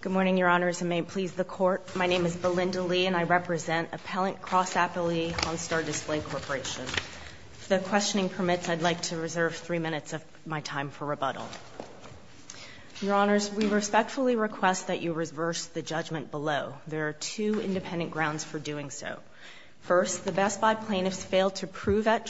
Good morning, Your Honors, and may it please the Court, my name is Belinda Lee and I represent Appellant Cross-Appley, Hannstar Display Corporation. If the questioning permits, I'd like to reserve three minutes of my time for rebuttal. Your Honors, we respectfully request that you reverse the judgment below. There are two independent grounds for doing so. First, the Best Buy plaintiffs failed to prove at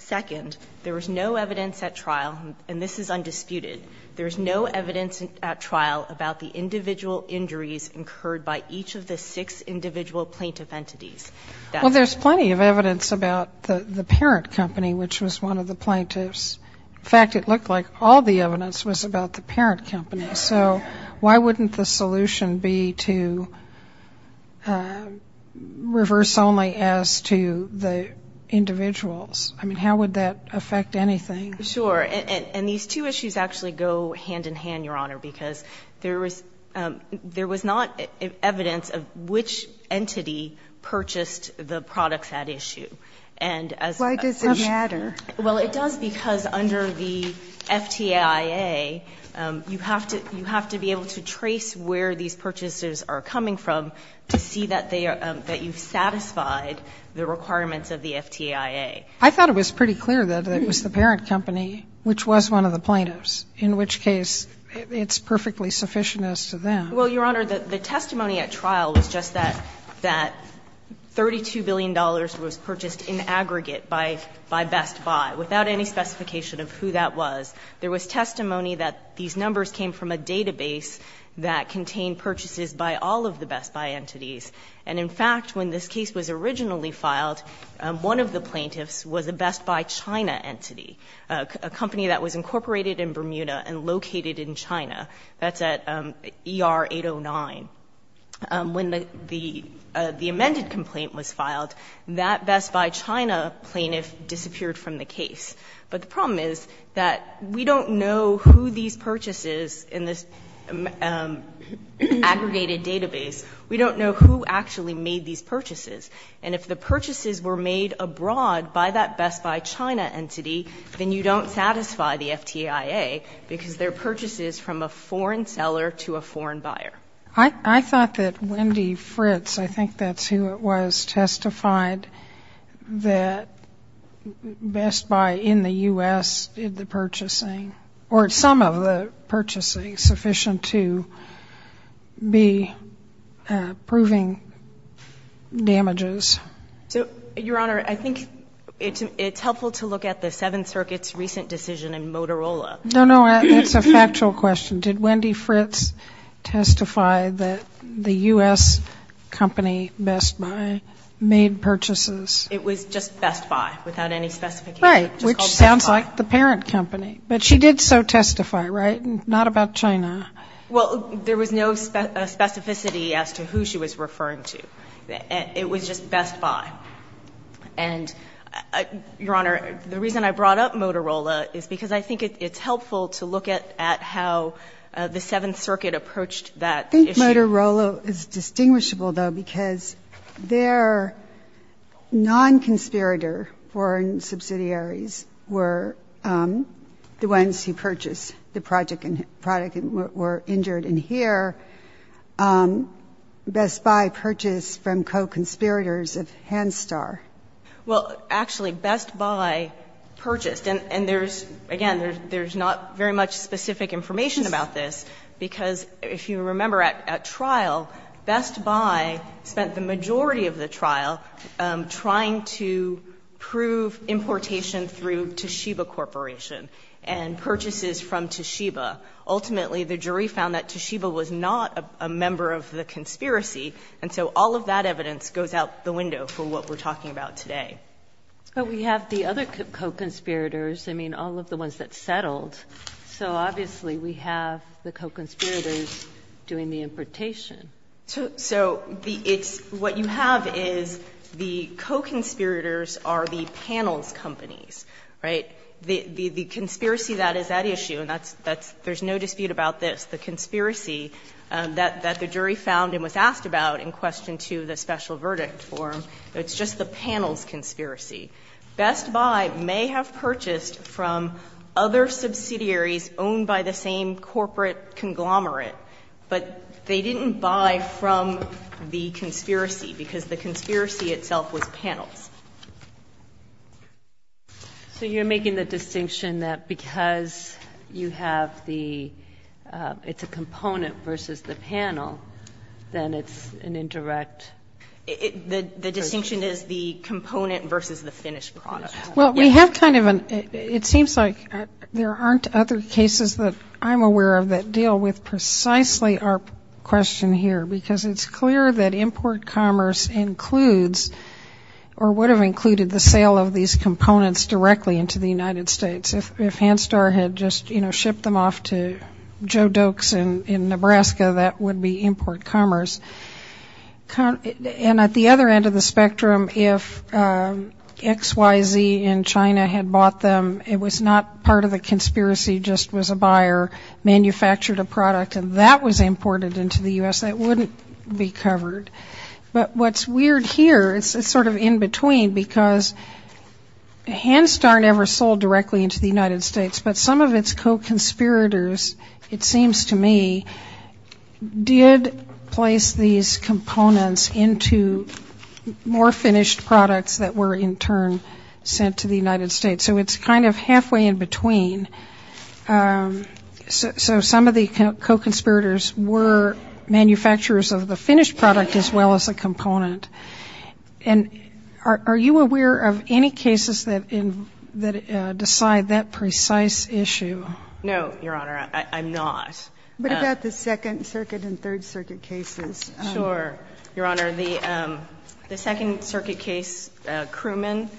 Second, there is no evidence at trial, and this is undisputed, there is no evidence at trial about the individual injuries incurred by each of the six individual plaintiff entities. Well, there's plenty of evidence about the parent company, which was one of the plaintiffs. In fact, it looked like all the evidence was about the parent company. So why wouldn't the solution be to reverse only as to the individuals? I mean, how would that affect anything? Sure. And these two issues actually go hand-in-hand, Your Honor, because there was not evidence of which entity purchased the products at issue. And as a question Why does it matter? Well, it does because under the FTIA, you have to be able to trace where these purchases are coming from to see that you've satisfied the requirements of the FTIA. I thought it was pretty clear that it was the parent company, which was one of the plaintiffs, in which case it's perfectly sufficient as to them. Well, Your Honor, the testimony at trial was just that $32 billion was purchased in aggregate by Best Buy, without any specification of who that was. There was testimony that these numbers came from a database that contained purchases by all of the Best Buy entities. And in fact, when this case was originally filed, one of the plaintiffs was a Best Buy China entity, a company that was incorporated in Bermuda and located in China. That's at ER 809. When the amended complaint was filed, that Best Buy China plaintiff disappeared from the case. But the problem is that we don't know who these purchases in this aggregated database, we don't know who actually made these purchases. And if the purchases were made abroad by that Best Buy China entity, then you don't satisfy the FTIA, because they're purchases from a foreign seller to a foreign buyer. I thought that Wendy Fritz, I think that's who it was, testified that it was the parent that Best Buy in the U.S. did the purchasing, or some of the purchasing sufficient to be proving damages. So, Your Honor, I think it's helpful to look at the Seventh Circuit's recent decision in Motorola. No, no, that's a factual question. Did Wendy Fritz testify that the U.S. company Best Buy made purchases? It was just Best Buy, without any specification. Right, which sounds like the parent company. But she did so testify, right? Not about China. Well, there was no specificity as to who she was referring to. It was just Best Buy. And, Your Honor, the reason I brought up Motorola is because I think it's helpful to look at how the Seventh Circuit approached that issue. I think Motorola is distinguishable, though, because they're one of the companies that did the purchasing. And I think that's helpful to look at how the Seventh Circuit approached that issue. The non-conspirator foreign subsidiaries were the ones who purchased the product and were injured. And here, Best Buy purchased from co-conspirators of Hanstar. Well, actually, Best Buy purchased. And there's, again, there's not very much specific information about this, because if you remember at trial, Best Buy spent the majority of the trial trying to prove importation through Toshiba Corporation and purchases from Toshiba. Ultimately, the jury found that Toshiba was not a member of the conspiracy, and so all of that evidence goes out the window for what we're talking about today. But we have the other co-conspirators, I mean, all of the ones that settled. So obviously, we have the co-conspirators doing the importation. So it's what you have is the co-conspirators are the panels companies, right? The conspiracy that is at issue, and there's no dispute about this, the conspiracy that the jury found and was asked about in question 2 of the special verdict form. It's just the panels conspiracy. Best Buy may have purchased from other subsidiaries owned by the same corporate conglomerate, but they didn't buy from the conspiracy, because the conspiracy itself was panels. So you're making the distinction that because you have the – it's a component versus the panel, then it's an indirect – The distinction is the component versus the finished product. Well, we have kind of an – it seems like there aren't other cases that I'm aware of that deal with precisely our question here, because it's clear that import commerce includes or would have included the sale of these components directly into the United States if Hanstar had just shipped them off to Joe Doakes in Nebraska, that would be import commerce. And at the other end of the spectrum, if XYZ in China had bought them, it was not part of the conspiracy, just was a buyer manufactured a product and that was imported into the U.S., that wouldn't be covered. But what's weird here, it's sort of in between, because Hanstar never sold directly into the United States, but some of its co-conspirators, it seems to me, did place these components into more finished products that were in turn sent to the United States. So it's kind of halfway in between. So some of the co-conspirators were manufacturers of the finished product as well as a component. And are you aware of any cases that decide that precise issue? No, Your Honor, I'm not. What about the Second Circuit and Third Circuit cases? Sure, Your Honor. The Second Circuit case, Crewman,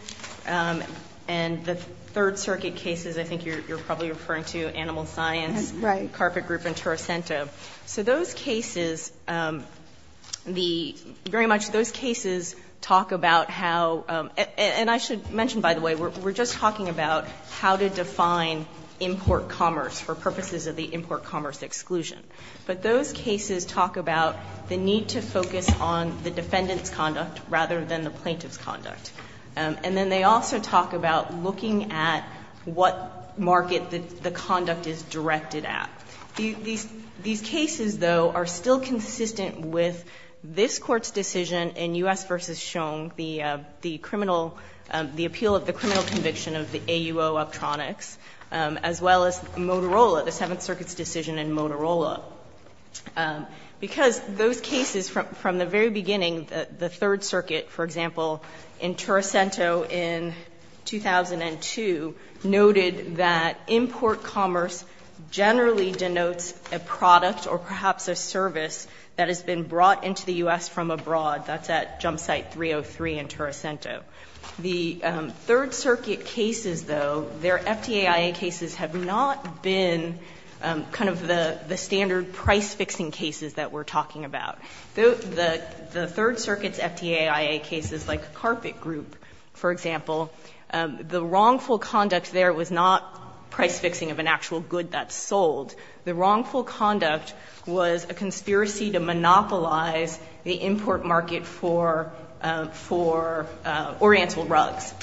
and the Third Circuit cases, I think you're probably referring to Animal Science, Carpet Group, and Toracento. So those cases, the, very much those cases talk about how, and I should mention, by the way, we're just talking about how to define import commerce for purposes of the import commerce exclusion. But those cases talk about the need to focus on the defendant's conduct rather than the plaintiff's conduct. And then they also talk about looking at what market the conduct is directed at. These cases, though, are still consistent with this Court's decision in U.S. v. Shong, the criminal, the appeal of the criminal conviction of the AUO Optronics, as well as Motorola, the Seventh Circuit's decision in Motorola. Because those cases from the very beginning, the Third Circuit, for example, in Toracento in 2002, noted that import commerce generally denotes a product or perhaps a service that has been brought into the U.S. from abroad. That's at Jump Site 303 in Toracento. The Third Circuit cases, though, their FDAIA cases have not been kind of the standard price-fixing cases that we're talking about. The Third Circuit's FDAIA cases, like Carpet Group, for example, the wrongful conduct there was not price-fixing of an actual good that's sold. The wrongful conduct was a conspiracy to monopolize the import market for Oriental rugs.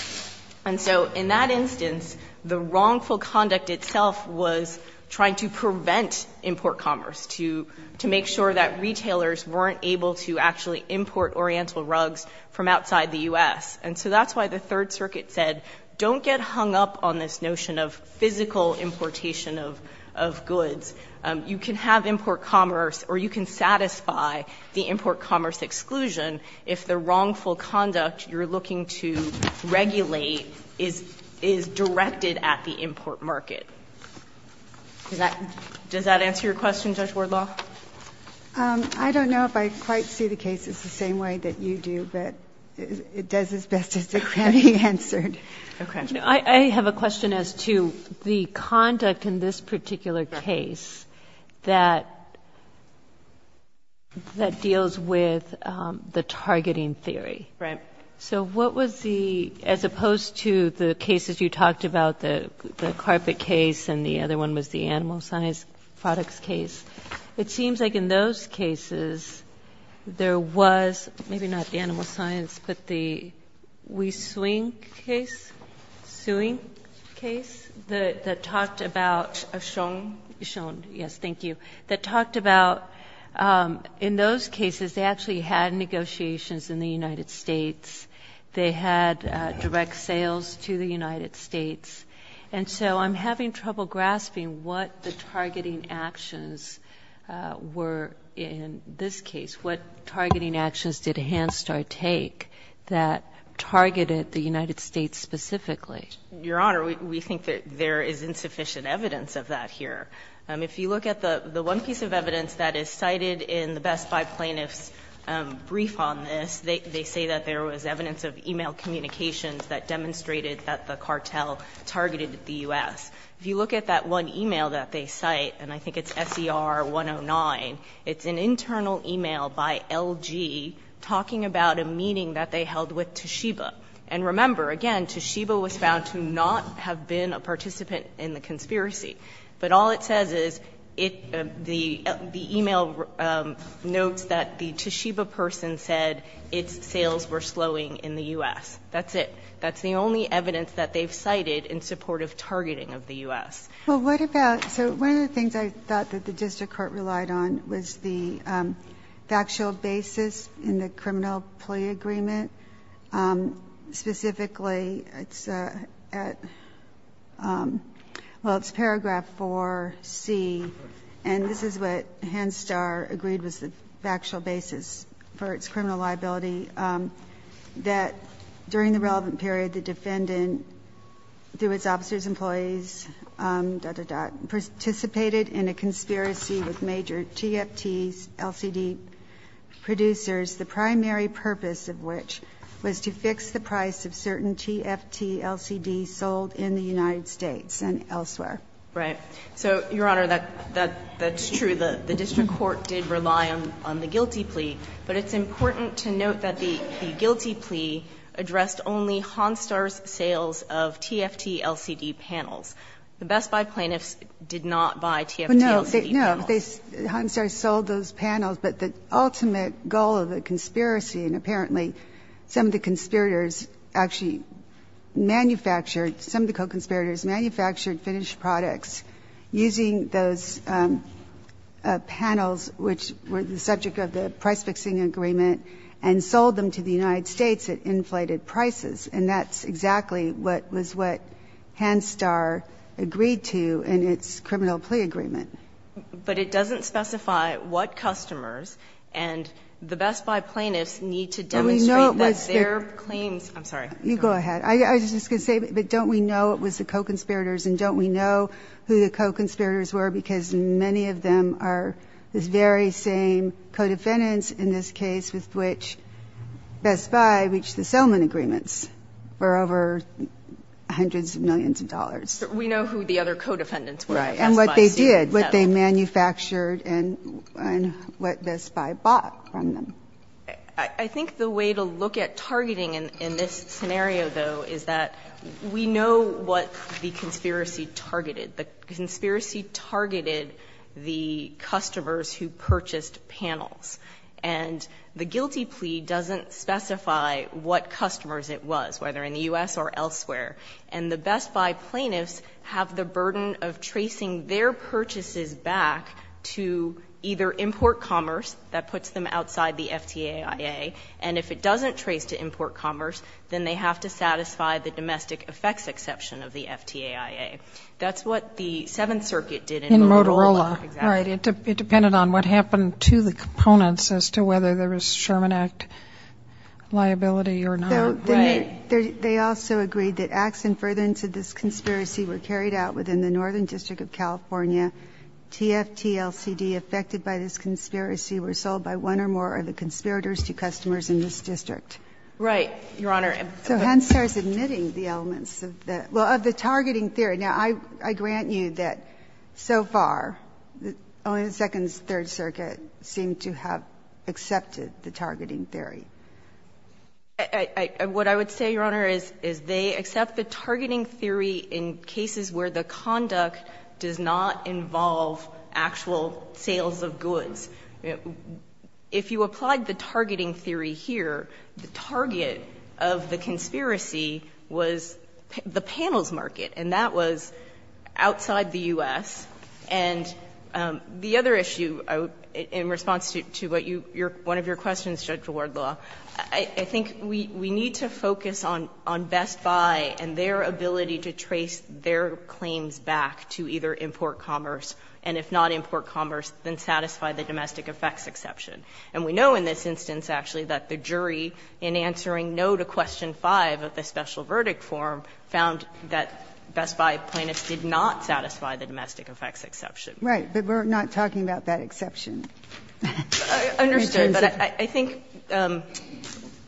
And so in that instance, the wrongful conduct itself was trying to prevent import commerce, to make sure that retailers weren't able to actually import Oriental rugs from outside the U.S. And so that's why the Third Circuit said, don't get hung up on this notion of physical importation of goods. You can have import commerce or you can satisfy the import commerce exclusion if the wrongful conduct you're looking to regulate is directed at the import market. Does that answer your question, Judge Wardlaw? I don't know if I quite see the cases the same way that you do, but it does its best to get it answered. I have a question as to the conduct in this particular case that deals with the targeting theory. Right. So what was the, as opposed to the cases you talked about, the carpet case and the other one was the animal size products case, it seems like in those cases there was, maybe not the animal science, but the we swing case, suing case that talked about, shown, yes, thank you, that talked about in those cases they actually had negotiations in the United States. They had direct sales to the United States. And so I'm having trouble grasping what the targeting actions were in this case, what targeting actions did Hanstar take that targeted the United States specifically? Your Honour, we think that there is insufficient evidence of that here. If you look at the one piece of evidence that is cited in the Best Buy plaintiff's brief on this, they say that there was evidence of email communications that demonstrated that the cartel targeted the US. If you look at that one email that they cite, and I think it's SER 109, it's an internal email by LG talking about a meeting that they held with Toshiba. And remember, again, Toshiba was found to not have been a participant in the conspiracy. But all it says is, the email notes that the Toshiba person said its sales were slowing in the US. That's it. That's the only evidence that they've cited in support of targeting of the US. Well, what about... So one of the things I thought that the district court relied on was the factual basis in the criminal plea agreement. Specifically, it's at... Well, it's paragraph 4C, and this is what Hanstar agreed was the factual basis for its criminal liability, that during the relevant period, the defendant, through his officer's employees, participated in a conspiracy with major TFT LCD producers, the primary purpose of which was to fix the price of certain TFT LCDs sold in the United States and elsewhere. Right. So, Your Honor, that's true. The district court did rely on the guilty plea, but it's important to note that the guilty plea addressed only Hanstar's sales of TFT LCD panels. The Best Buy plaintiffs did not buy TFT LCD panels. No, Hanstar sold those panels, but the ultimate goal of the conspiracy, and apparently some of the conspirators actually manufactured, some of the co-conspirators manufactured finished products using those panels, which were the subject of the price-fixing agreement, and sold them to the United States at inflated prices, and that's exactly what was what Hanstar agreed to in its criminal plea agreement. But it doesn't specify what customers and the Best Buy plaintiffs need to demonstrate that their claims... I'm sorry. You go ahead. I was just going to say, but don't we know it was the co-conspirators and don't we know who the co-conspirators were because many of them are the very same co-defendants in this case with which Best Buy reached the settlement agreements for over hundreds of millions of dollars? We know who the other co-defendants were. Right. And what they did, what they manufactured, and what Best Buy bought from them. I think the way to look at targeting in this scenario, though, is that we know what the conspiracy targeted. The conspiracy targeted the customers who purchased panels, and the guilty plea doesn't specify what customers it was, whether in the U.S. or elsewhere. And the Best Buy plaintiffs have the burden of tracing their purchases back to either import commerce that puts them outside the FTAIA, and if it doesn't trace to import commerce, then they have to satisfy the domestic effects exception of the FTAIA. That's what the Seventh Circuit did in Motorola. In Motorola. Right. It depended on what happened to the components as to whether there was Sherman Act liability or not. Right. They also agreed that acts in furtherance of this conspiracy were carried out within the Northern District of California. TFT-LCD affected by this conspiracy were sold by one or more of the conspirators to customers in this district. Right, Your Honor. So Henstar's admitting the elements of the targeting theory. Now, I grant you that so far, only the Second and Third Circuit seem to have accepted the targeting theory. What I would say, Your Honor, is they accept the targeting theory in cases where the conduct does not involve actual sales of goods. If you applied the targeting theory here, the target of the conspiracy was the panels market, and that was outside the U.S. And the other issue, in response to one of your questions, Judge Wardlaw, I think we need to focus on Best Buy and their ability to trace their claims back to either import commerce, and if not import commerce, then satisfy the domestic effects exception. And we know in this instance, actually, that the jury, in answering no to question 5 of the special verdict form, found that Best Buy plaintiffs did not satisfy the domestic effects exception. Right, but we're not talking about that exception. Understood, but I think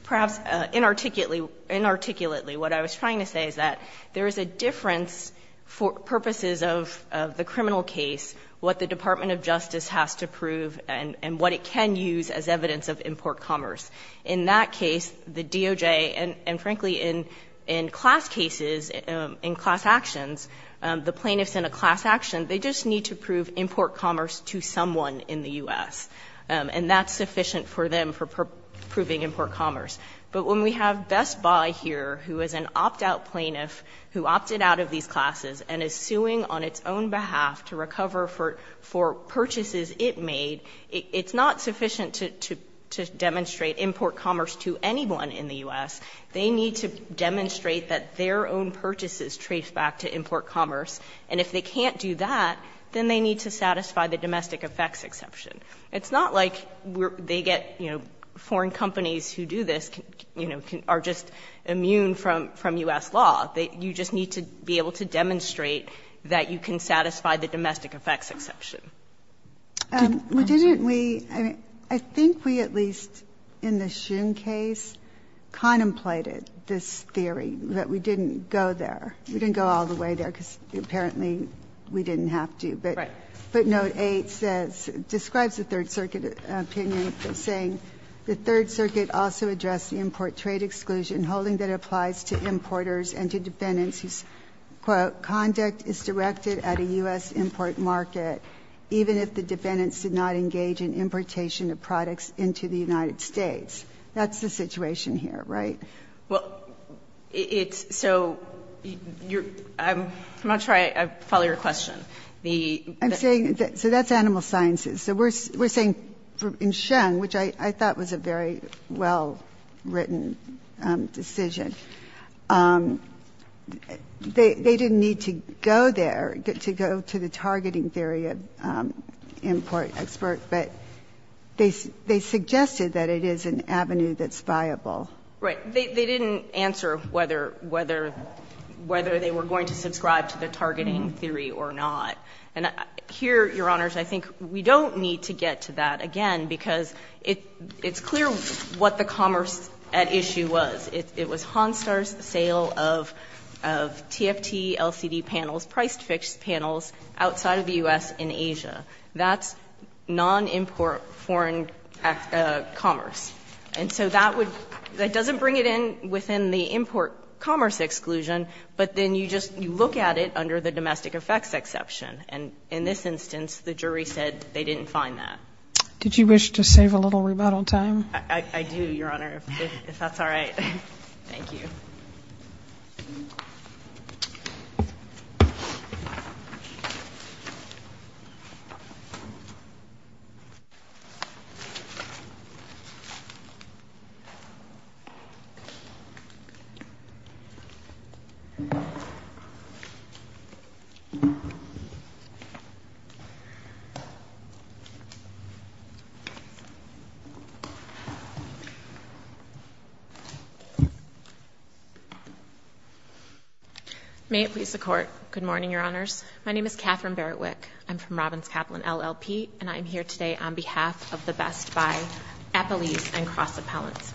perhaps inarticulately, what I was trying to say is that there is a difference for purposes of the criminal case, what the Department of Justice has to prove and what it can use as evidence of import commerce. In that case, the DOJ, and frankly, in class cases, in class actions, the plaintiffs in a class action, they just need to prove import commerce to someone in the U.S. And that's sufficient for them for proving import commerce. But when we have Best Buy here, who is an opt-out plaintiff, who opted out of these classes and is suing on its own behalf to recover for purchases it made, it's not sufficient to demonstrate import commerce to anyone in the U.S. They need to demonstrate that their own purchases trace back to import commerce. And if they can't do that, then they need to satisfy the domestic effects exception. It's not like they get, you know, foreign companies who do this, you know, are just immune from U.S. law. You just need to be able to demonstrate that you can satisfy the domestic effects exception. Didn't we, I mean, I think we at least, in the Shun case, contemplated this theory that we didn't go there. We didn't go all the way there because apparently we didn't have to. Right. But Note 8 says, describes the Third Circuit opinion saying, the Third Circuit also addressed the import trade exclusion holding that applies to importers and to defendants whose, quote, conduct is directed at a U.S. import market even if the defendants did not engage in importation of products into the United States. That's the situation here, right? Well, it's, so, you're, I'm not sure I follow your question. The... I'm saying, so that's animal sciences. So we're saying, in Shun, which I thought was a very well-written decision, they didn't need to go there to go to the targeting theory of import expert, but they suggested that it is an avenue that's viable. Right. They didn't answer whether, whether, whether they were going to subscribe to the targeting theory or not. And here, Your Honors, I think we don't need to get to that again because it's clear what the commerce at issue was. It was Honstar's sale of, of TFT LCD panels, price-fixed panels outside of the U.S. in Asia. That's non-import foreign act, uh, commerce. And so that would, that doesn't bring it in within the import commerce exclusion, but then you just, you look at it under the domestic effects exception. And in this instance, the jury said they didn't find that. Did you wish to save a little rebuttal time? I, I do, Your Honor, if that's all right. Thank you. Thank you. May it please the court. Good morning, Your Honors. My name is Catherine Barrett Wick. I'm from Robbins Kaplan LLP, and I'm here today on behalf of the best by Apple East and Cross Appellants.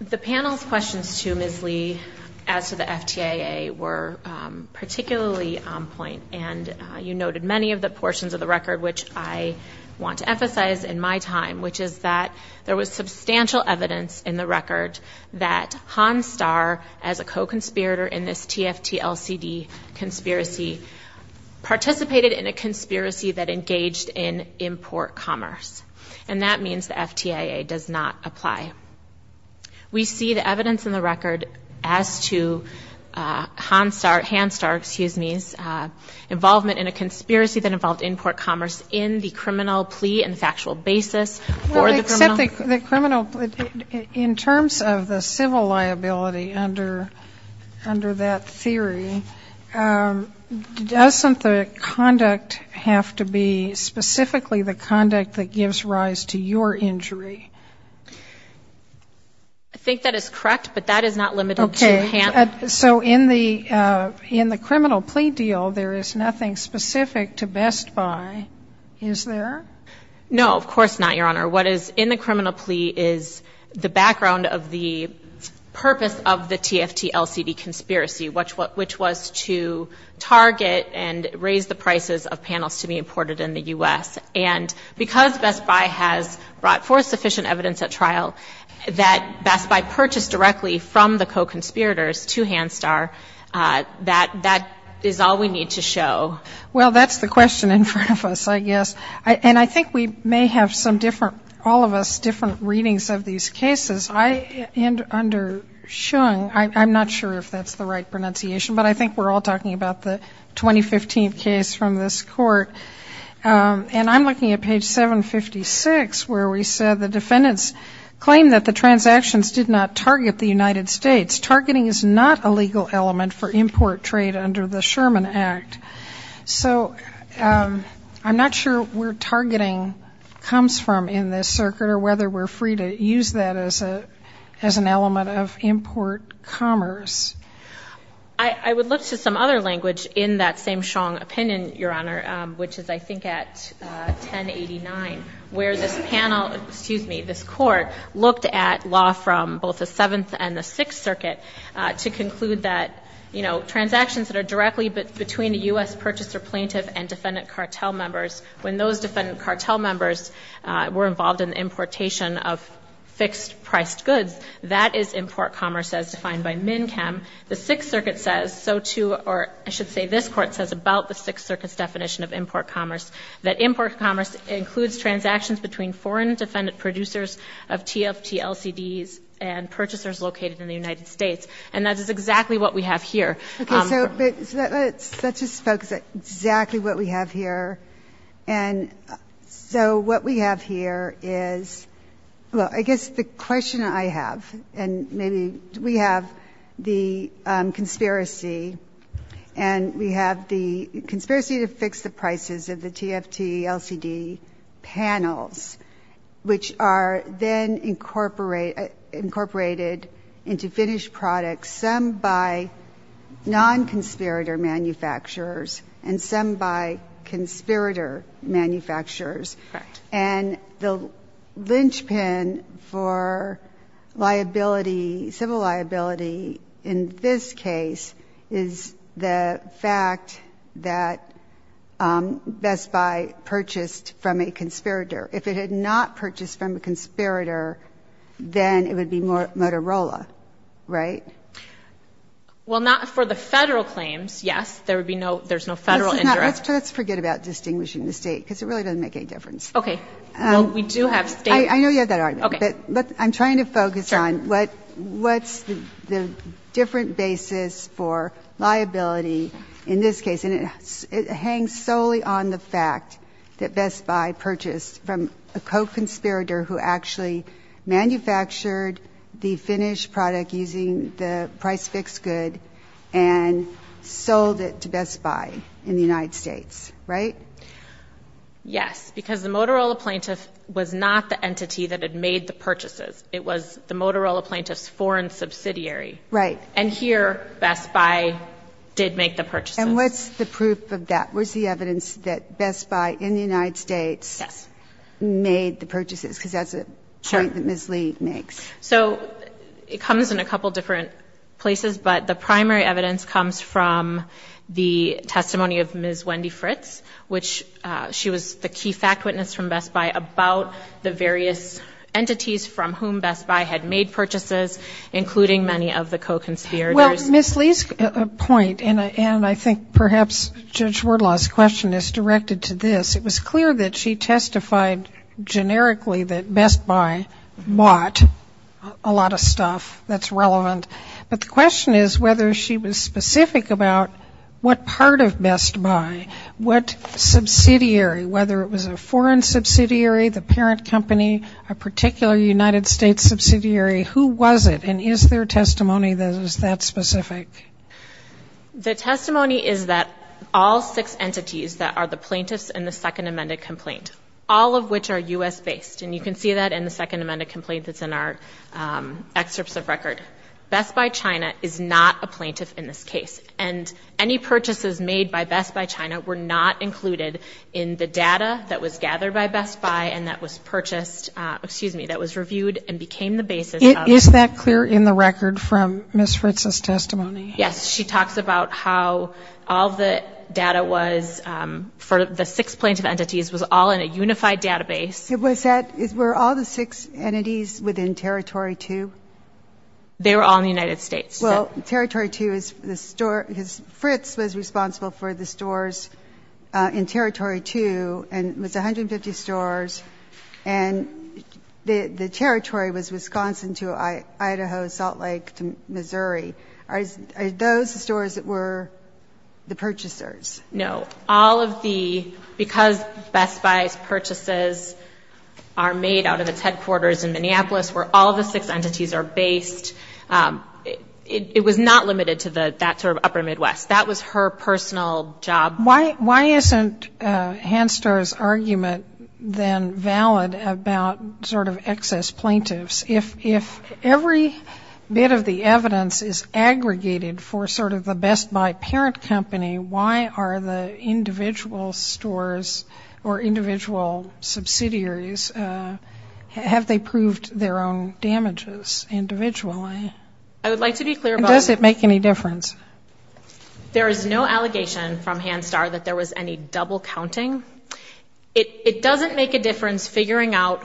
The panel's questions to Ms. Lee as to the FTAA were, um, particularly on point, and, uh, you noted many of the portions of the record, which I want to emphasize in my time, which is that there was substantial evidence in the record that Honstar, as a co-conspirator in this TFT LCD conspiracy, participated in a conspiracy that engaged in import commerce. And that means the FTAA does not apply. We see the evidence in the record as to, uh, Honstar, Hanstar, excuse me's, uh, involvement in a conspiracy that involved import commerce in the criminal plea and the factual basis for the criminal... Well, except the, the criminal... In terms of the civil liability under, under that theory, um, doesn't the conduct have to be specifically the conduct that gives rise to your injury? I think that is correct, but that is not limited to Han... Okay, so in the, uh, in the criminal plea deal, there is nothing specific to best by, is there? No, of course not, Your Honor. What is in the criminal plea is the background of the purpose of the TFT LCD conspiracy, which, which was to target and raise the prices of panels to be imported in the U.S. And because Best Buy has brought forth sufficient evidence at trial that Best Buy purchased directly from the co-conspirators to Hanstar, uh, that, that is all we need to show. Well, that's the question in front of us, I guess. And I think we may have some different, all of us different readings of these cases. I, and under Shung, I'm not sure if that's the right pronunciation, but I think we're all talking about the 2015 case from this court. Um, and I'm looking at page 756, where we said the defendants claimed that the transactions did not target the United States. Targeting is not a legal element for import trade under the Sherman Act. So, um, I'm not sure where targeting comes from in this circuit and I'm not sure whether we're free to use that as a, as an element of import commerce. I, I would look to some other language in that same Shung opinion, Your Honor, um, which is, I think, at, uh, 1089, where this panel, excuse me, this court looked at law from both the Seventh and the Sixth Circuit, uh, to conclude that, you know, transactions that are directly between a U.S. purchaser plaintiff and defendant cartel members, when those defendant cartel members, uh, were involved in the importation of fixed-priced goods, that is import commerce as defined by MNCAM. The Sixth Circuit says so too, or I should say this court says about the Sixth Circuit's definition of import commerce, that import commerce includes transactions between foreign defendant producers of TFT LCDs and purchasers located in the United States. And that is exactly what we have here. Okay, so let's, let's just focus on exactly what we have here. And so what we have here is, well, I guess the question I have, and maybe we have the, um, conspiracy, and we have the conspiracy to fix the prices of the TFT LCD panels, which are then incorporate, incorporated into finished products, some by non-conspirator manufacturers, and some by conspirator manufacturers. And the linchpin for liability, civil liability in this case is the fact that, um, Best Buy purchased from a conspirator. If it had not purchased from a conspirator, then it would be more Motorola, right? Well, not for the Let's not, let's forget about distinguishing the state, because it really doesn't make any difference. Okay, well, we do have state I know you have that argument, but I'm trying to focus on what, what's the, the different basis for liability in this case, and it, it hangs solely on the fact that Best Buy purchased from a co-conspirator who actually manufactured the finished product using the price fix good and sold it to Best Buy in the United States, right? Yes, because the Motorola plaintiff was not the entity that had made the purchases. It was the Motorola plaintiff's foreign subsidiary. Right. And here, Best Buy did make the purchases. And what's the proof of that? Where's the evidence that Best Buy in the United States made the purchases? Because that's a point that Ms. Lee makes. So, it comes in a couple different places, but the primary evidence comes from the testimony of Ms. Wendy Fritz, which she was the key fact witness from Best Buy about the various entities from whom Best Buy had made purchases, including many of the co-conspirators. Well, Ms. Lee's point, and I think perhaps Judge Wardlaw's question is directed to this. It was clear that she testified generically that Best Buy bought a lot of stuff that's relevant. But the question is whether she was specific about what part of Best Buy, what subsidiary, whether it was a foreign subsidiary, the parent company, a particular United States subsidiary, who was it, and is their testimony that is that specific? The testimony is that all six entities that are the plaintiffs in the second amended complaint, all of which are U.S. based. And you can see that in the second excerpts of record. Best Buy China is not a plaintiff in this case. And any purchases made by Best Buy China were not included in the data that was gathered by Best Buy and that was purchased excuse me, that was reviewed and became the basis of... Is that clear in the record from Ms. Fritz's testimony? Yes. She talks about how all the data was for the six plaintiff entities was all in a unified database. Was that, were all the six entities within Territory 2? They were all in the United States. Well, Territory 2 is the store Fritz was responsible for the stores in Territory 2 and it was 150 stores and the territory was Wisconsin to Idaho, Salt Lake to Missouri. Are those the stores that were the purchasers? No. All of the, because Best Buy's purchases are made out of its headquarters in Minneapolis where all the six entities are based. It was not limited to that sort of upper Midwest. That was her personal job. Why isn't Hanstar's argument then valid about sort of excess plaintiffs if every bit of the evidence is aggregated for sort of the Best Buy parent company, why are the individual stores or individual subsidiaries have they proved their own damages individually? Does it make any difference? There is no allegation from Hanstar that there was any double counting. It doesn't make a difference figuring out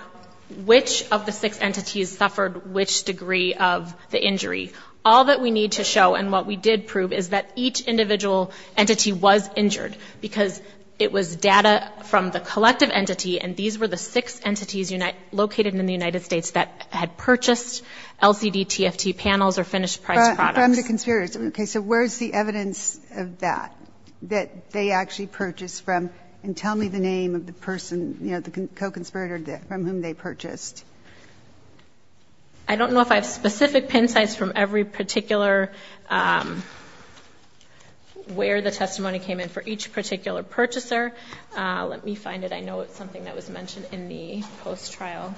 which of the six entities suffered which degree of the injury. All that we need to show and what we did prove is that each individual entity was injured because it was data from the collective entity and these were the six entities located in the United States that had purchased LCD TFT panels or finished price products. From the conspirators. Okay, so where's the evidence of that? That they actually purchased from and tell me the name of the person you know, the co-conspirator from whom they purchased. I don't know if I have specific pin sites from every particular where the testimony came in for each particular purchaser. Let me find it. I know it's something that was mentioned in the post-trial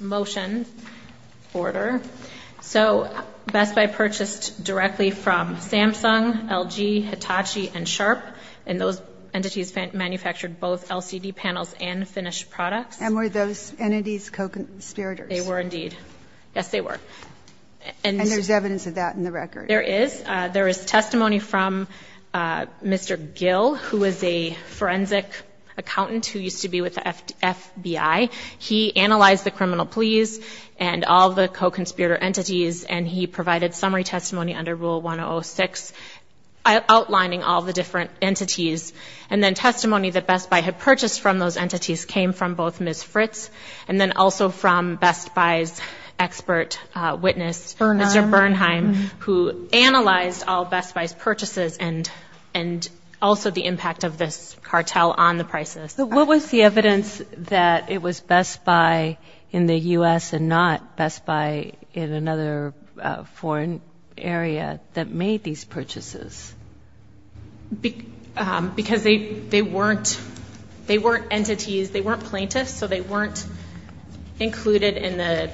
motion order. So Best Buy purchased directly from Samsung, LG, Hitachi and Sharp and those entities manufactured both LCD panels and finished products. And were those entities co-conspirators? They were indeed. Yes, they were. And there's evidence of that in the record? There is. There is testimony from Mr. Gill who is a forensic accountant who used to be with the FBI. He analyzed the criminal pleas and all the co-conspirator entities and he provided summary testimony under Rule 106 outlining all the different entities. And then testimony that Best Buy had purchased from those entities came from both Ms. Fritz and then also from Best Buy's expert witness, Mr. Bernheim who analyzed all Best Buy's purchases and also the impact of this cartel on the prices. What was the evidence that it was Best Buy in the U.S. and not Best Buy in another foreign area that made these purchases? Because they weren't entities, they weren't plaintiffs, so they weren't included in the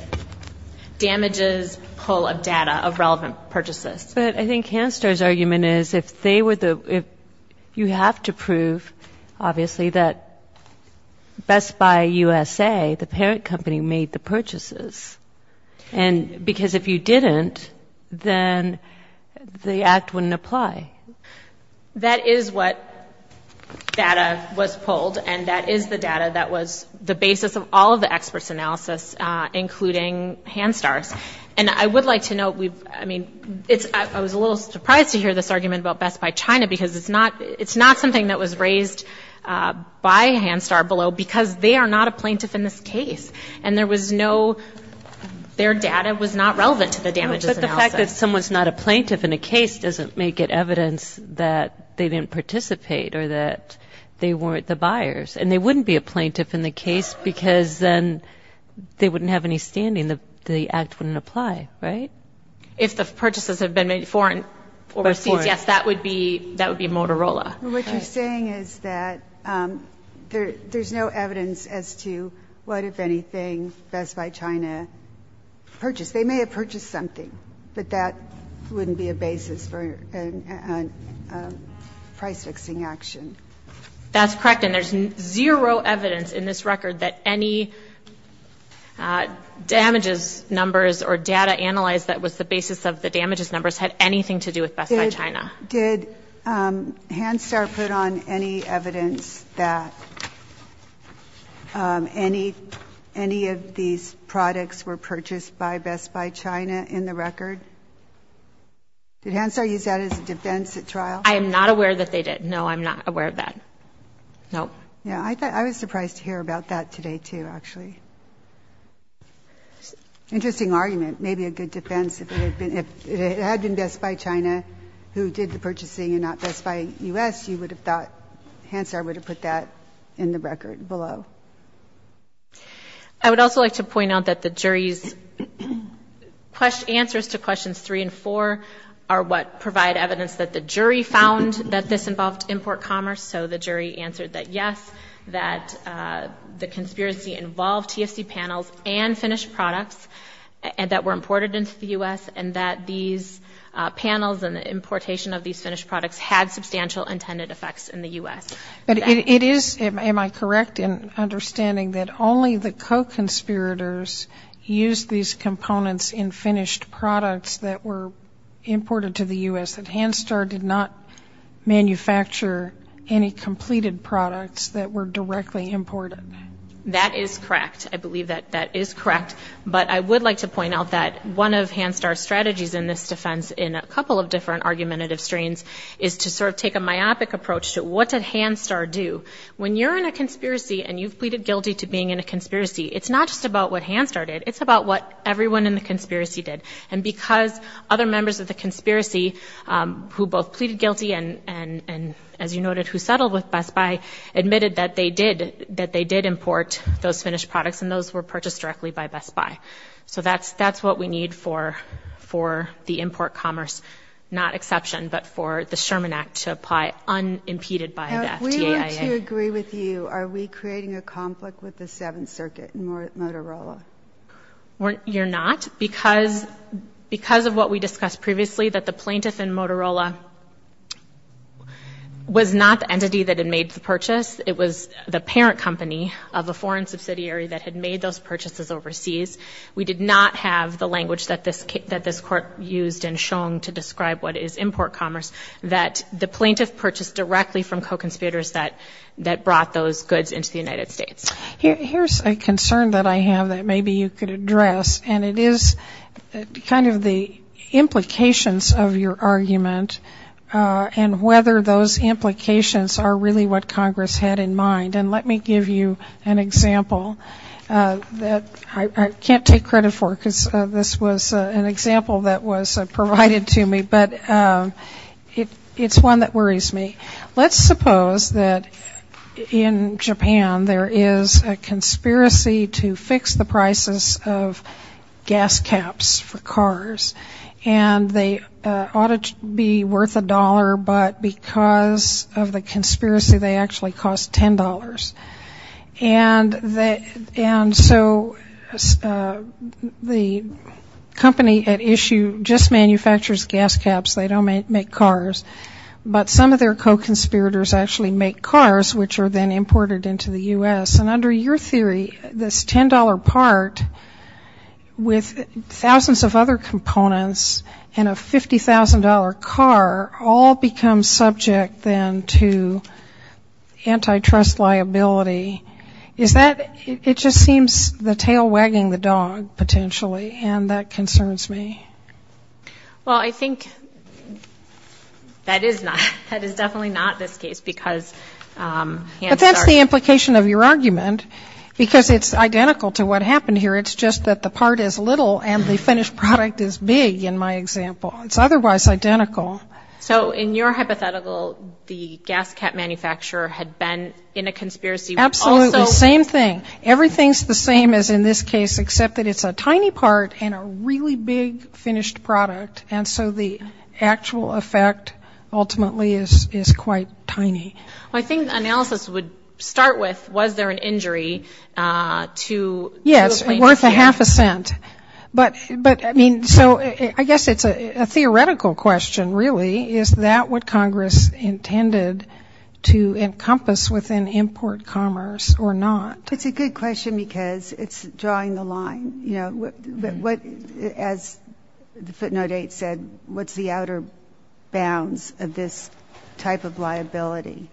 damages pull of data of relevant purchases. But I think Hanstar's argument is you have to prove obviously that Best Buy USA, the parent company, made the purchases because if you didn't, then the act wouldn't apply. That is what data was pulled and that is the data that was the basis of all of the experts' analysis including Hanstar's. And I would like to note I was a little surprised to hear this argument about Best Buy China because it's not something that was raised by Hanstar below because they are not a plaintiff in this case. And there was no their data was not relevant to the damages analysis. But the fact that someone's not a plaintiff in a case doesn't make it evidence that they didn't participate or that they weren't the plaintiff in the case because they wouldn't have any standing. The act wouldn't apply, right? If the purchases have been made foreign overseas, yes, that would be Motorola. What you're saying is that there's no evidence as to what, if anything, Best Buy China purchased. They may have purchased something, but that wouldn't be a basis for price fixing action. That's correct. And there's zero evidence in this record that any damages numbers or data analyzed that was the basis of the damages numbers had anything to do with Best Buy China. Did Hanstar put on any evidence that any of these products were purchased by Best Buy China in the record? Did Hanstar use that as a defense at trial? I am not aware that they did. No, I'm not aware of that. No. I was surprised to hear about that today too, actually. Interesting argument. Maybe a good defense. If it had been Best Buy China who did the purchasing and not Best Buy U.S., you would have thought Hanstar would have put that in the record below. I would also like to point out that the jury's answers to questions three and four are what provide evidence that the jury found that this involved import commerce. So the jury answered that yes, that the conspiracy involved TFC panels and finished products that were imported into the U.S. and that these panels and the importation of these finished products had substantial intended effects in the U.S. But it is, am I correct in understanding that only the co-conspirators used these components in imported to the U.S.? That Hanstar did not manufacture any completed products that were directly imported? That is correct. I believe that that is correct. But I would like to point out that one of Hanstar's strategies in this defense in a couple of different argumentative strains is to sort of take a myopic approach to what did Hanstar do? When you're in a conspiracy and you've pleaded guilty to being in a conspiracy, it's not just about what Hanstar did. It's about what everyone in the conspiracy did. And because other members of the conspiracy who both pleaded guilty and as you noted, who settled with Best Buy admitted that they did import those finished products and those were purchased directly by Best Buy. So that's what we need for the import commerce. Not exception, but for the Sherman Act to apply unimpeded by the FDA. If we were to agree with you, are we creating a conflict with the Seventh Circuit and Motorola? You're not. Because of what we discussed previously, that the plaintiff in Motorola was not the entity that had made the purchase. It was the parent company of a foreign subsidiary that had made those purchases overseas. We did not have the language that this court used in Shong to describe what is import commerce. That the plaintiff purchased directly from co-conspirators that brought those goods into the United States. Here's a concern that I have that maybe you could address and it is kind of the implications of your argument and whether those implications are really what Congress had in mind. And let me give you an example that I can't take credit for because this was an example that was provided to me, but it's one that worries me. Let's suppose that in Japan there is a conspiracy to fix the prices of gas caps for cars and they ought to be worth a dollar but because of the conspiracy they actually cost $10. And so the company at issue just manufactures gas caps. They don't make cars. But some of their co-conspirators actually make cars which are then imported into the US and under your theory this $10 part with thousands of other components and a $50,000 car all become subject then to antitrust liability. Is that it just seems the tail wagging the dog potentially and that concerns me. Well I think that is not. That is definitely not this case because... But that's the implication of your argument because it's identical to what happened here it's just that the part is little and the finished product is big in my example. It's otherwise identical. So in your hypothetical the gas cap manufacturer had been in a conspiracy... Absolutely same thing. Everything's the same as in this case except that it's a tiny part and a really big finished product and so the actual effect ultimately is quite tiny. I think analysis would start with was there an injury to the plaintiff's case? Yes, worth a half a cent. So I guess it's a theoretical question really is that what Congress intended to encompass within import commerce or not? It's a good question because it's drawing the line. As Footnote 8 said what's the outer bounds of this type of liability?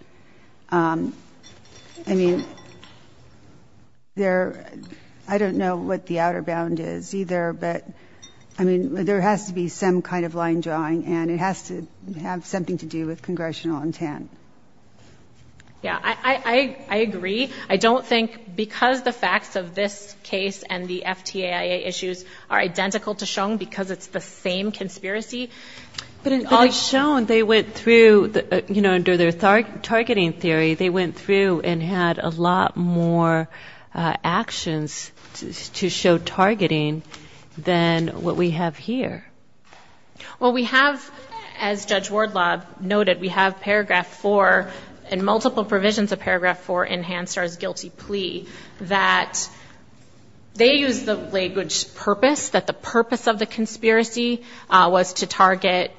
I don't know what the outer bound is either but there has to be some kind of line drawing and it has to have something to do with Congressional intent. I agree. I don't think because the facts of this case and the FTAIA issues are identical to shown because it's the same conspiracy But in all shown they went through under their targeting theory they went through and had a lot more actions to show targeting than what we have here. Well we have as Judge Wardlaw noted we have paragraph 4 and multiple provisions of paragraph 4 in Hanstar's They use the language purpose that the purpose of the conspiracy was to target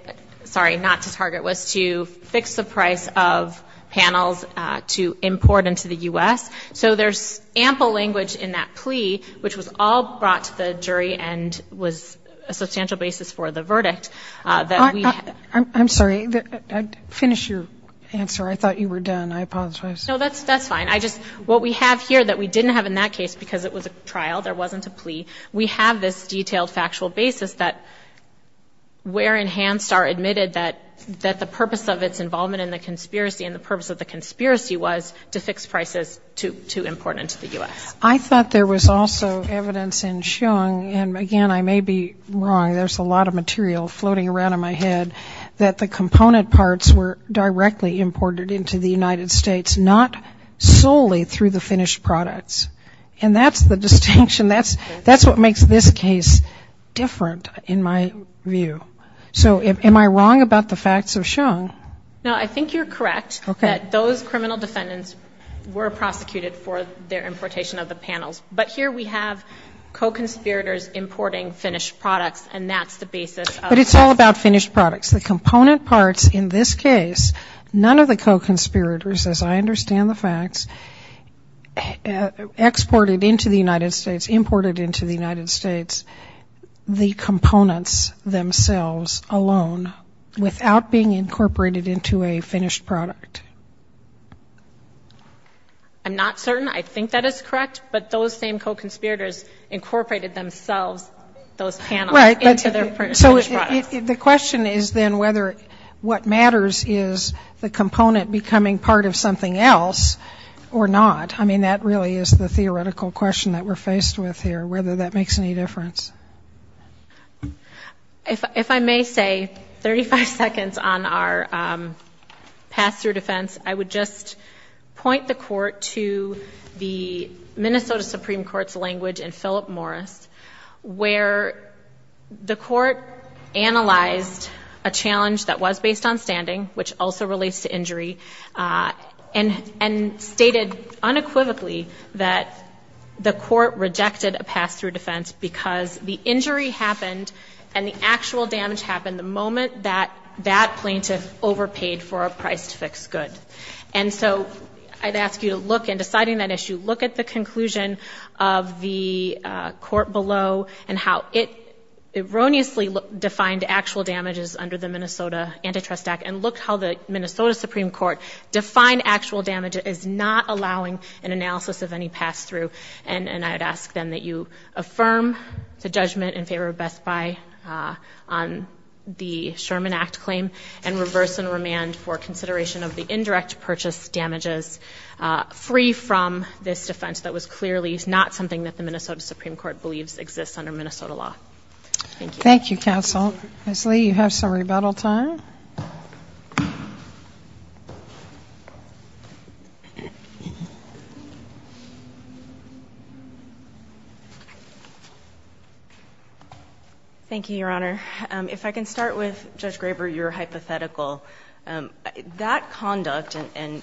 sorry not to target was to fix the price of panels to import into the U.S. So there's ample language in that plea which was all brought to the jury and was a substantial basis for the verdict. I'm sorry. I finished your answer. I thought you were done. I apologize. No that's fine. What we have here that we didn't have in that case because it was a trial there wasn't a plea we have this detailed factual basis that where in Hanstar admitted that that the purpose of its involvement in the conspiracy and the purpose of the conspiracy was to fix prices to import into the U.S. I thought there was also evidence in shown and again I may be wrong there's a lot of material floating around in my head that the component parts were directly imported into the United States not solely through the finished products and that's the distinction that's what makes this case different in my view so am I wrong about the facts of shown? No I think you're correct that those criminal defendants were prosecuted for their importation of the panels but here we have co-conspirators importing finished products and that's the basis. But it's all about finished products the component parts in this case none of the co-conspirators as I understand the facts exported into the United States imported into the United States the components themselves alone without being incorporated into a finished product I'm not certain I think that is correct but those same co-conspirators incorporated themselves those panels into their finished products so the question is then whether what matters is the component becoming part of something else or not that really is the theoretical question that we're faced with here whether that makes any difference If I may say 35 seconds on our pass through defense I would just point the court to the Minnesota Supreme Court's language in Philip Morris where the court analyzed a challenge that was based on standing which also relates to injury and stated unequivocally that the court rejected a pass through defense because the injury happened and the actual damage happened the moment that that plaintiff overpaid for a price to fix good and so I'd ask you to look in deciding that issue look at the conclusion of the court below and how it erroneously defined actual damages under the Minnesota Antitrust Act and look how the Minnesota Supreme Court defined actual damage is not allowing an analysis of any pass through and I'd ask then that you affirm the judgment in favor of Best Buy on the Sherman Act claim and reverse and remand for consideration of the indirect purchase damages free from this defense that was clearly not something that the Minnesota Supreme Court believes exists under Minnesota law. Thank you counsel. Ms. Lee you have some rebuttal time. Thank you your honor if I can start with Judge Graber your hypothetical that conduct and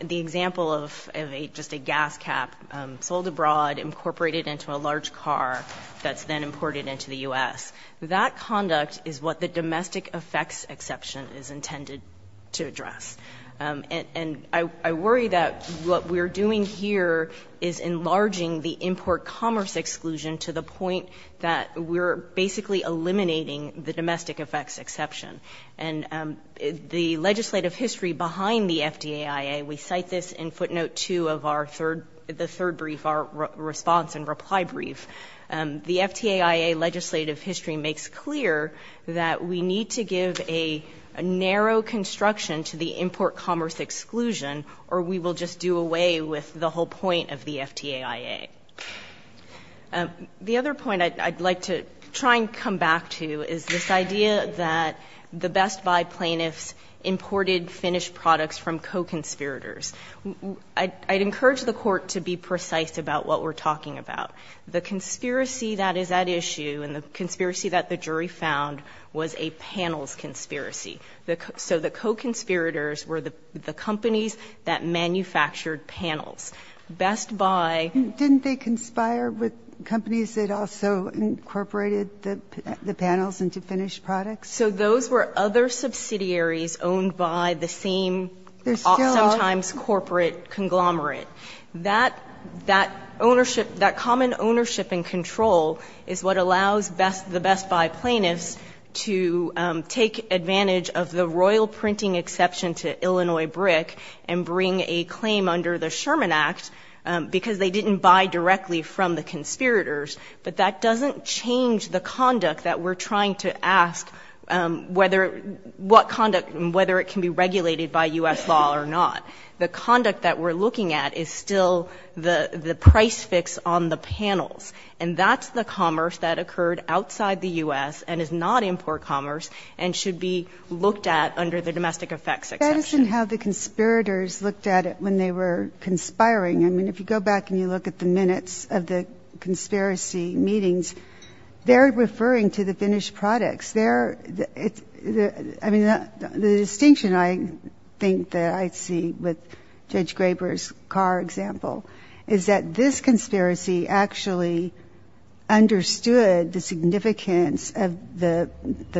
the example of a gas cap sold abroad incorporated into a large car that's then imported into the U.S. that conduct is what the domestic effects exception is intended to address and I worry that what we're doing here is enlarging the import commerce exclusion to the point that we're basically eliminating the domestic effects exception and the legislative history behind the FDAIA we cite this in footnote 2 of our the third brief response and reply brief the FDAIA legislative history makes clear that we need to give a narrow construction to the import commerce exclusion or we will just do away with the whole point of the FDAIA the other point I'd like to try and come back to is this idea that the Best Buy plaintiffs imported finished products from co-conspirators I'd encourage the court to be precise about what we're talking about. The conspiracy that is at issue and the conspiracy that the jury found was a panels conspiracy so the co-conspirators were the companies that manufactured panels. Best Buy didn't they conspire with companies that also incorporated the panels into finished products? So those were other subsidiaries owned by the same sometimes corporate conglomerate that common ownership and control is what allows the Best Buy plaintiffs to take advantage of the royal printing exception to Illinois Brick and bring a claim under the Sherman Act because they didn't buy directly from the conspirators but that doesn't change the conduct that we're trying to ask whether what conduct and whether it can be regulated by U.S. law or not the conduct that we're looking at is still the price fix on the panels and that's the commerce that occurred outside the U.S. and is not import commerce and should be looked at under the domestic effects exception. That isn't how the conspirators looked at it when they were conspiring. I mean if you go back and you look at the minutes of the conspiracy meetings they're referring to the finished products there the distinction I think that I see with Judge Graber's car example is that this conspiracy actually understood the significance of the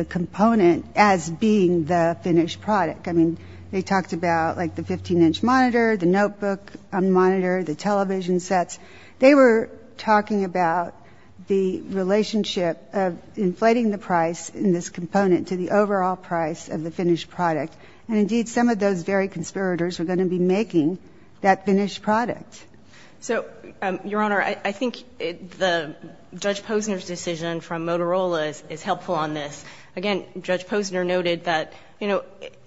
component as being the finished product I mean they talked about the 15 inch monitor, the notebook monitor, the television sets they were talking about the relationship of inflating the price in this component to the overall price of the finished product and indeed some of those very conspirators were going to be making that finished product So your honor I think the Judge Posner's decision from Motorola is helpful on this. Again Judge Posner noted that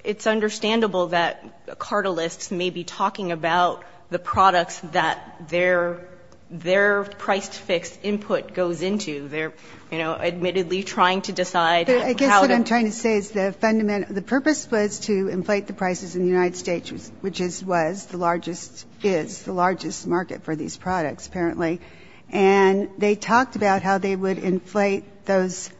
it's understandable that cartelists may be talking about the products that their price fixed input goes into they're admittedly trying to decide I guess what I'm trying to say is the purpose was to inflate the prices in the United States which is the largest market for these products apparently and they talked about how they would inflate those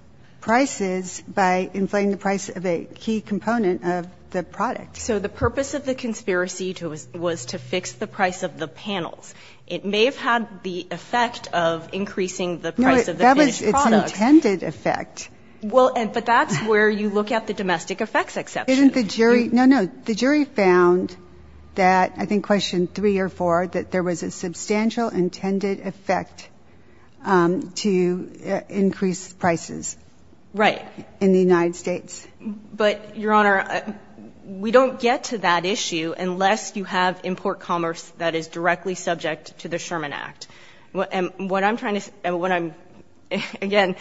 prices by inflating the price of a key component of the product. So the purpose of the conspiracy was to fix the price of the panels It may have had the effect of increasing the price of the finished products. No, it's intended effect Well, but that's where you look at the domestic effects exception No, no, the jury found that, I think question three or four, that there was a substantial intended effect to increase prices in the United States But your honor, we don't get to that issue unless you have import commerce that is directly subject to the Sherman Act and what I'm trying to again,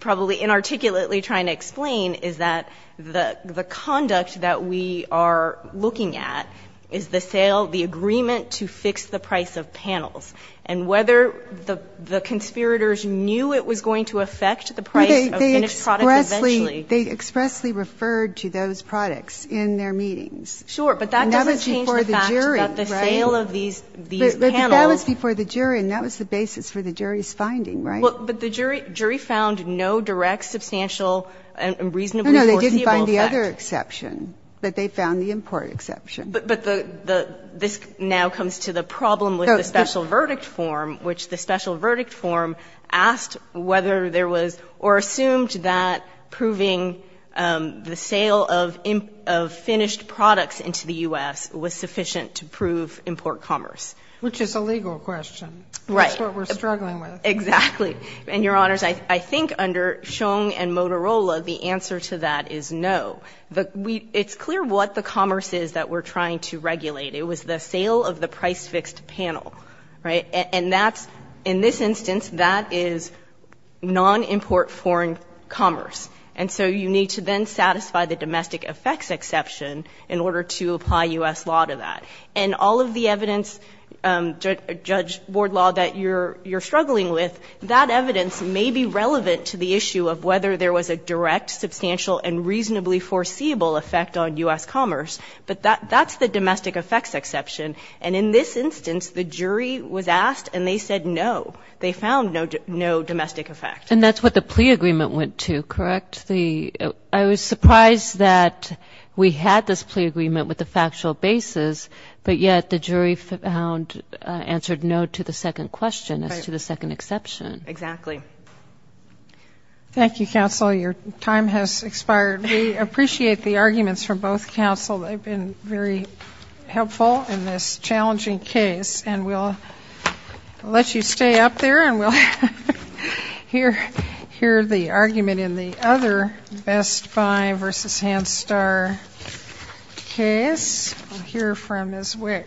probably inarticulately trying to explain is that the conduct that we are looking at is the sale, the agreement to fix the price of panels and whether the conspirators knew it was going to effect the price of finished products eventually They expressly referred to those products in their meetings Sure, but that doesn't change the fact that the sale of these panels That was the basis for the jury's finding But the jury found no direct substantial and reasonable foreseeable effect But they found the import exception But this now comes to the problem with the special verdict form, which the special verdict form asked whether there was or assumed that proving the sale of finished products into the U.S. was sufficient to prove import commerce Which is a legal question Exactly And your honors, I think under Shong and Motorola, the answer to that is no It's clear what the commerce is that we're trying to regulate. It was the sale of the price fixed panel And that's, in this instance that is non-import foreign commerce And so you need to then satisfy the domestic effects exception in order to apply U.S. law to that And all of the evidence Judge Board Law that you're struggling with That evidence may be relevant to the issue of whether there was a direct, substantial and reasonably foreseeable effect on U.S. commerce But that's the domestic effects exception And in this instance, the jury was asked and they said no They found no domestic effect And that's what the plea agreement went to, correct? I was surprised that we had this plea agreement with the factual basis But yet the jury found answered no to the second question as to the second exception Exactly Thank you, counsel. Your time has expired We appreciate the arguments from both counsel They've been very helpful in this challenging case And we'll let you stay up there And we'll hear the argument in the other Best Buy vs. Hand Star case We'll hear from Ms. Wick